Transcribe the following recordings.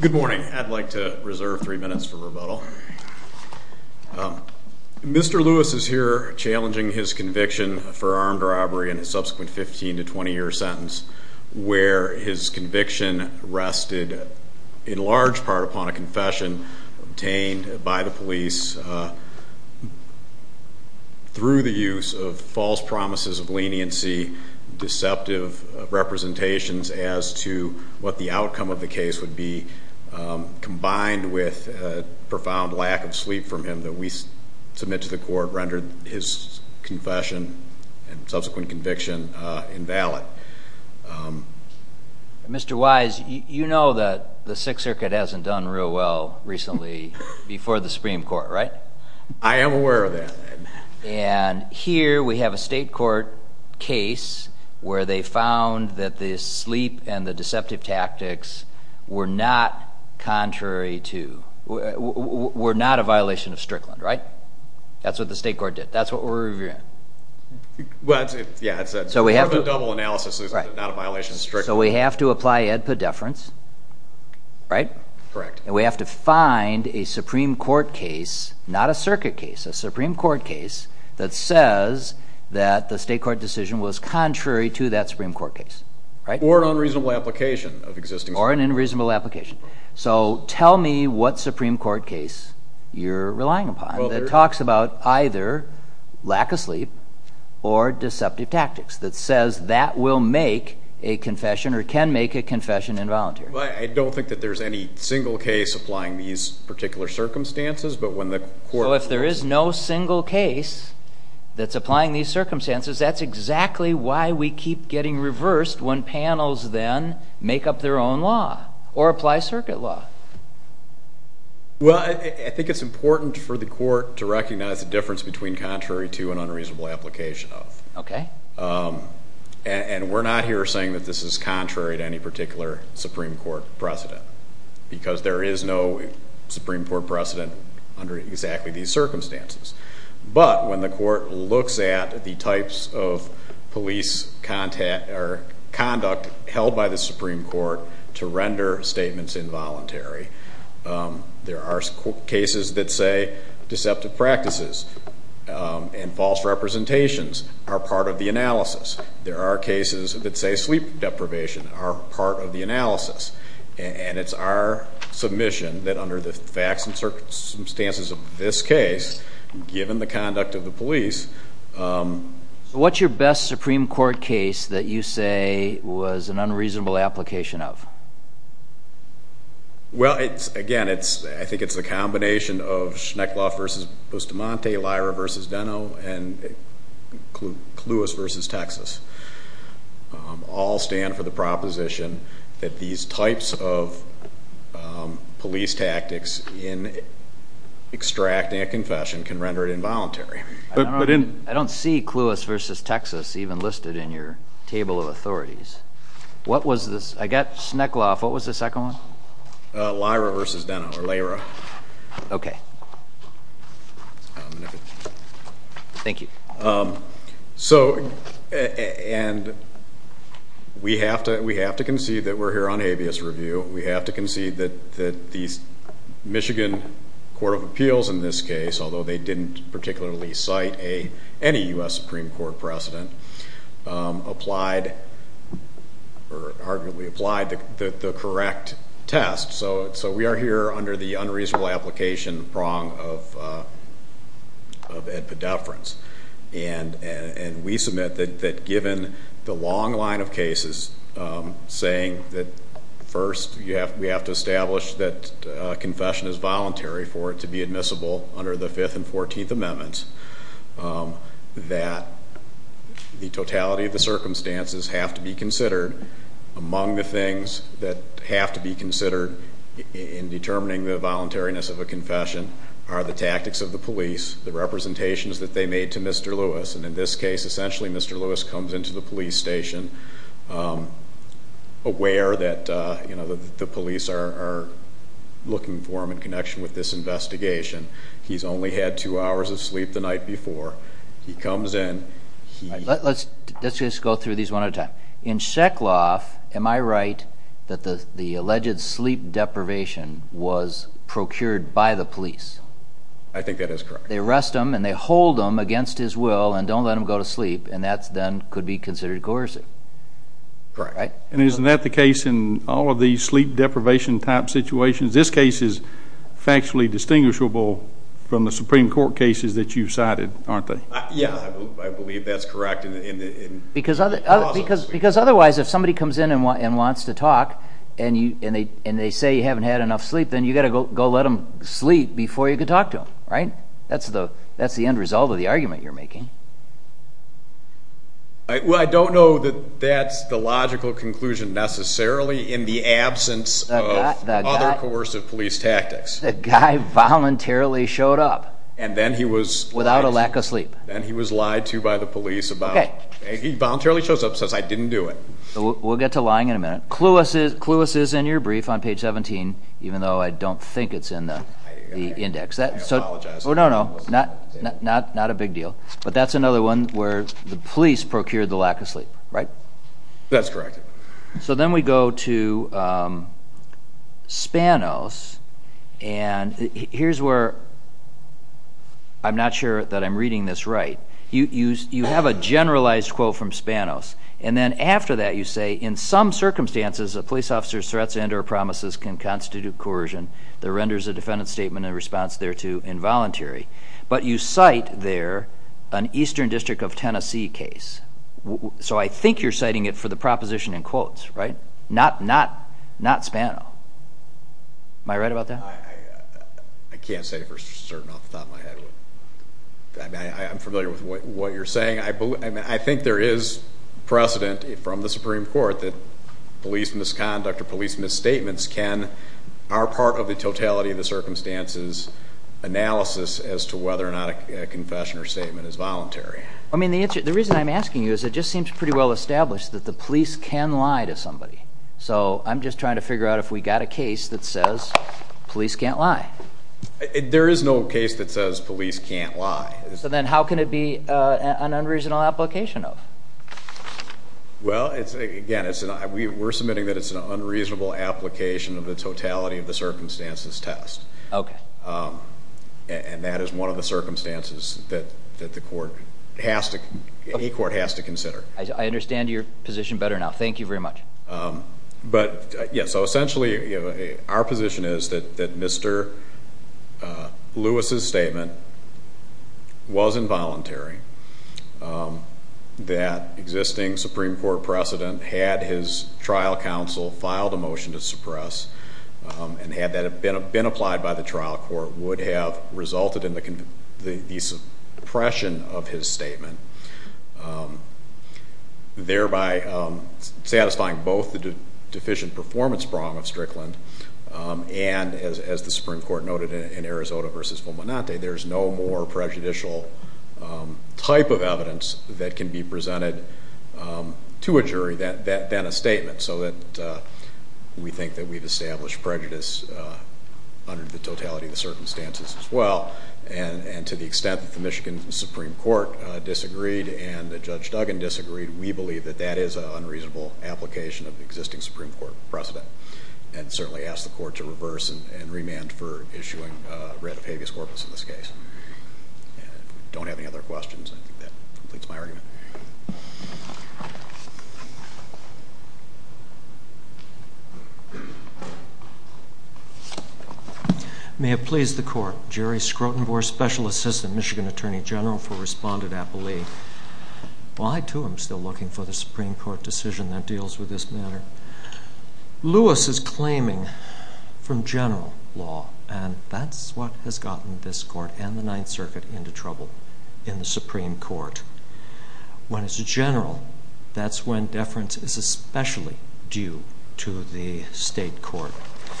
Good morning. I'd like to reserve three minutes for rebuttal. Mr. Lewis is here challenging his conviction for armed robbery in a subsequent 15 to 20 year sentence where his conviction rested in large part upon a confession obtained by the police through the use of false promises of leniency, deceptive representations as to what the outcome of the case would be combined with a profound lack of sleep from him that we submit to the court rendered his confession and subsequent conviction invalid. Mr. Wise, you know that the Sixth Circuit hasn't done real well recently before the Supreme Court, right? I am aware of that. And here we have a state court case where they found that the sleep and the deceptive tactics were not contrary to, were not a violation of Strickland, right? That's what the state court did. That's what we're reviewing. So we have to apply Edpa deference, right? Correct. And we have to find a Supreme Court case, not a circuit case, a Supreme Court case that says that the state court decision was contrary to that Supreme Court case, right? Or an unreasonable application of existing... Or an unreasonable application. So tell me what Supreme Court case you're relying upon that talks about either lack of sleep or deceptive tactics that says that will make a confession or can make a confession involuntary. I don't think that there's any single case applying these particular circumstances, but when the court... So if there is no single case that's applying these circumstances, that's exactly why we keep getting reversed when panels then make up their own law or apply circuit law. Well, I think it's important for the court to recognize the difference between contrary to and unreasonable application of. Okay. And we're not here saying that this is contrary to any particular Supreme Court precedent, because there is no Supreme Court precedent under exactly these circumstances. But when the court looks at the types of police conduct held by the Supreme Court to render statements involuntary, there are cases that say deceptive practices and false representations are part of the analysis. There are cases that say sleep deprivation are part of the given the conduct of the police. So what's your best Supreme Court case that you say was an unreasonable application of? Well, again, I think it's a combination of Schneckloff versus Bustamante, Lyra versus Deno, and Cluas versus Texas. All stand for the proposition that these types of police tactics in extracting a confession can render it involuntary. I don't see Cluas versus Texas even listed in your table of authorities. I got Schneckloff, what was the second one? Lyra versus Deno, or Lyra. Okay. Thank you. So, and we have to concede that we're here on habeas review. We have to concede that the Michigan Court of Appeals in this case, although they didn't particularly cite any U.S. Supreme Court precedent, applied or arguably applied the correct test. So we are here under the unreasonable application prong of edpedeference. And we submit that given the long line of cases saying that first we have to establish that confession is voluntary for it to be admissible under the 5th and 14th amendments, that the totality of the circumstances have to be considered among the things that have to be considered in determining the voluntariness of a confession are the tactics of the police, the representations that they made to Mr. Lewis, and in this case essentially Mr. Lewis comes into the police station aware that, you know, the police are looking for him in connection with this investigation. He's only had two hours of sleep the night before. He comes in. Let's just go through these one at a time. In Schneckloff, am I right that the alleged sleep deprivation was procured by the police? I think that is correct. They arrest him and they hold him against his will and don't let him go to sleep and that then could be considered coercive. Correct. And isn't that the case in all of these sleep deprivation type situations? This case is factually distinguishable from the Supreme Court cases that you've cited, aren't they? Yeah, I believe that's correct. Because otherwise if somebody comes in and wants to talk and they say you haven't had enough sleep, then you've got to go let them sleep before you can talk to them, right? That's the end result of the argument you're making. Well, I don't know that that's the logical conclusion necessarily in the absence of other coercive police tactics. The guy voluntarily showed up without a lack of sleep. Then he was lied to by the police about it. He voluntarily showed up since I didn't do it. We'll get to lying in a minute. Cluas is in your brief on page 17, even though I don't think it's in the index. I apologize. No, no, not a big deal. But that's another one where the police procured the lack of sleep, right? That's correct. So then we go to Spanos and here's where I'm not sure that I'm reading this right. You have a generalized quote from Spanos and then after that you say, in some circumstances a police officer's threats and or promises can constitute coercion that renders a defendant's statement in response thereto involuntary. But you cite there an Eastern District of Tennessee case. So I think you're citing it for the proposition in quotes, right? Not Spano. Am I with what you're saying? I think there is precedent from the Supreme Court that police misconduct or police misstatements are part of the totality of the circumstances analysis as to whether or not a confession or statement is voluntary. I mean, the reason I'm asking you is it just seems pretty well established that the police can lie to somebody. So I'm just trying to figure out if we got a case that says police can't lie. There is no case that says police can't lie. So then how can it be an unreasonable application of? Well, again, we're submitting that it's an unreasonable application of the totality of the circumstances test. Okay. And that is one of the circumstances that a court has to consider. I understand your position better now. Thank you very much. So essentially our position is that Mr. Lewis's statement was involuntary. That existing Supreme Court precedent had his trial counsel filed a motion to suppress and had that been applied by the trial court would have resulted in the suppression of his statement. Thereby satisfying both the deficient performance prong of Strickland. And as the Supreme Court noted in Arizona versus Fulminante, there's no more prejudicial type of evidence that can be presented to a jury that then a statement so that we think that we've established prejudice under the totality of the circumstances as well. And to the extent that the Michigan Supreme Court disagreed and Judge Duggan disagreed, we believe that that is an unreasonable application of the existing Supreme Court precedent and certainly ask the court to reverse and remand for issuing a writ of habeas corpus in this case. And if you don't have any other questions, I think that completes my argument. May it please the court. Jerry Skrotenborg, Special Assistant Michigan Attorney General for Respondent Appellee. Well, I too am still looking for the Supreme Court decision that deals with this matter. Lewis is claiming from general law and that's what has gotten this court and the Ninth Circuit into trouble in the Supreme Court. When it's a general, that's when deference is especially due to the state court.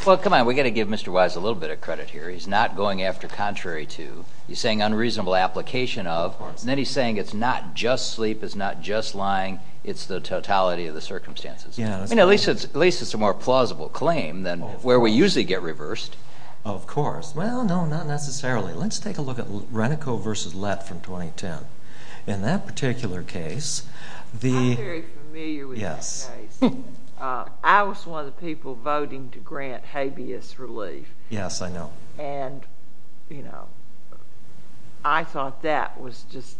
Well, come on. We got to give Mr. Wise a little bit of credit here. He's not going after contrary to you saying unreasonable application of, and then he's saying it's not just sleep, it's not just lying, it's the totality of the circumstances. At least it's a more plausible claim than where we usually get reversed. Of course. Well, no, not necessarily. Let's take a look at Renico versus Lett from 2010. In that particular case, the... I'm very familiar with that case. I was one of the people voting to grant habeas relief. Yes, I know. I thought that was just...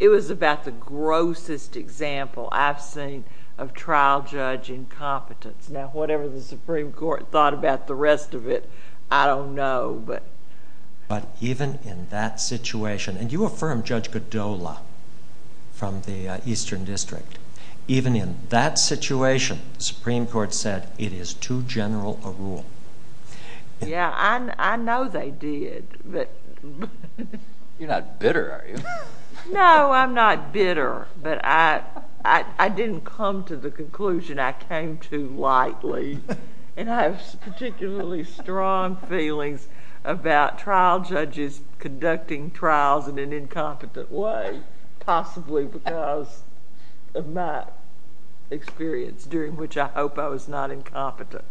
It was about the grossest example I've seen of trial judge incompetence. Now, whatever the Supreme Court thought about the rest of it, I don't know. But even in that situation, and you affirmed Judge Godola from the Eastern District. Even in that situation, the Supreme Court said, it is too general a rule. Yes, I know they did, but... You're not bitter, are you? No, I'm not bitter, but I didn't come to the conclusion I came to lightly, and I have particularly strong feelings about trial judges conducting trials in an incompetent way, possibly because of my experience, during which I hope I was not incompetent.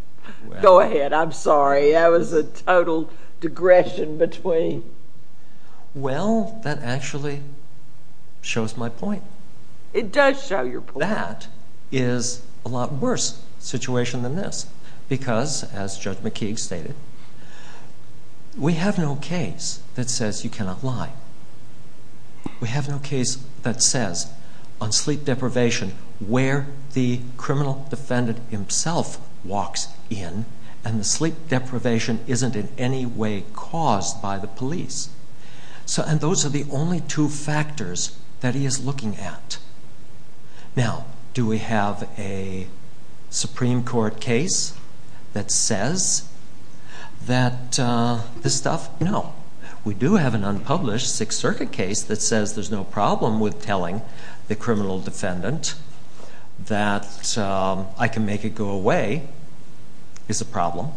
Go ahead. I'm sorry. That was a total digression between... Well, that actually shows my point. It does show your point. That is a lot worse situation than this, because, as Judge McKeague stated, we have no case that says you cannot lie. We have no case that says, on sleep deprivation, where the criminal defendant himself walks in, and the sleep deprivation isn't in any way caused by the police. And those are the only two factors that he is looking at. Now, do we have a Supreme Court case that says that this stuff... No. We do have an unpublished Sixth Circuit case that says there's no problem with telling the criminal defendant that I can make it go away is a problem.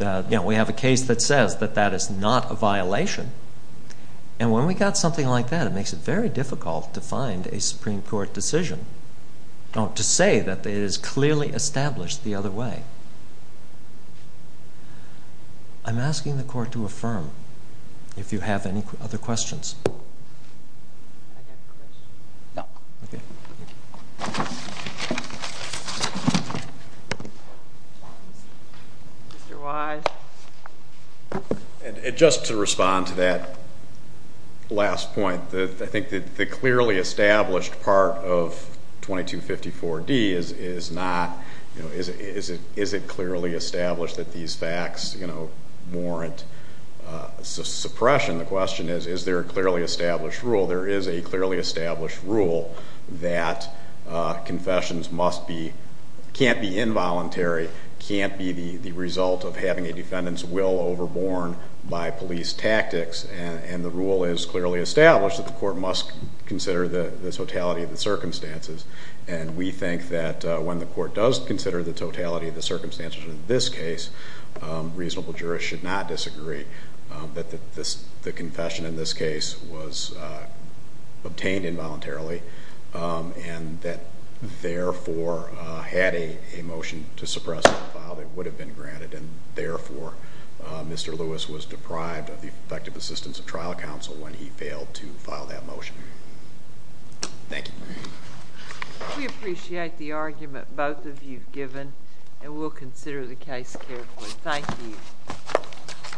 We have a case that says that that is not a violation. And when we got something like that, it makes it very difficult to find a Supreme Court decision to say that it is clearly established the other way. I'm asking the Court to affirm if you have any other questions. Can I get a question? No. Okay. Mr. Wise. And just to respond to that last point, I think the clearly established part of 2254D is not, you know, is it clearly established that these facts, you know, warrant suppression? The question is, is there a clearly established rule? There is a clearly established rule that confessions must be, can't be involuntary, can't be the result of having a defendant's will overborne by police tactics. And the rule is clearly established that the Court must consider the totality of the circumstances. And we think that when the Court does consider the totality of the circumstances in this case, reasonable jurists should not disagree that the confession in this case was obtained involuntarily and that therefore had a motion to suppress the file that would have been granted and therefore Mr. Lewis was deprived of the effective assistance of trial counsel when he failed to file that motion. Thank you. We appreciate the argument both of you have given and we'll consider the case carefully. Thank you.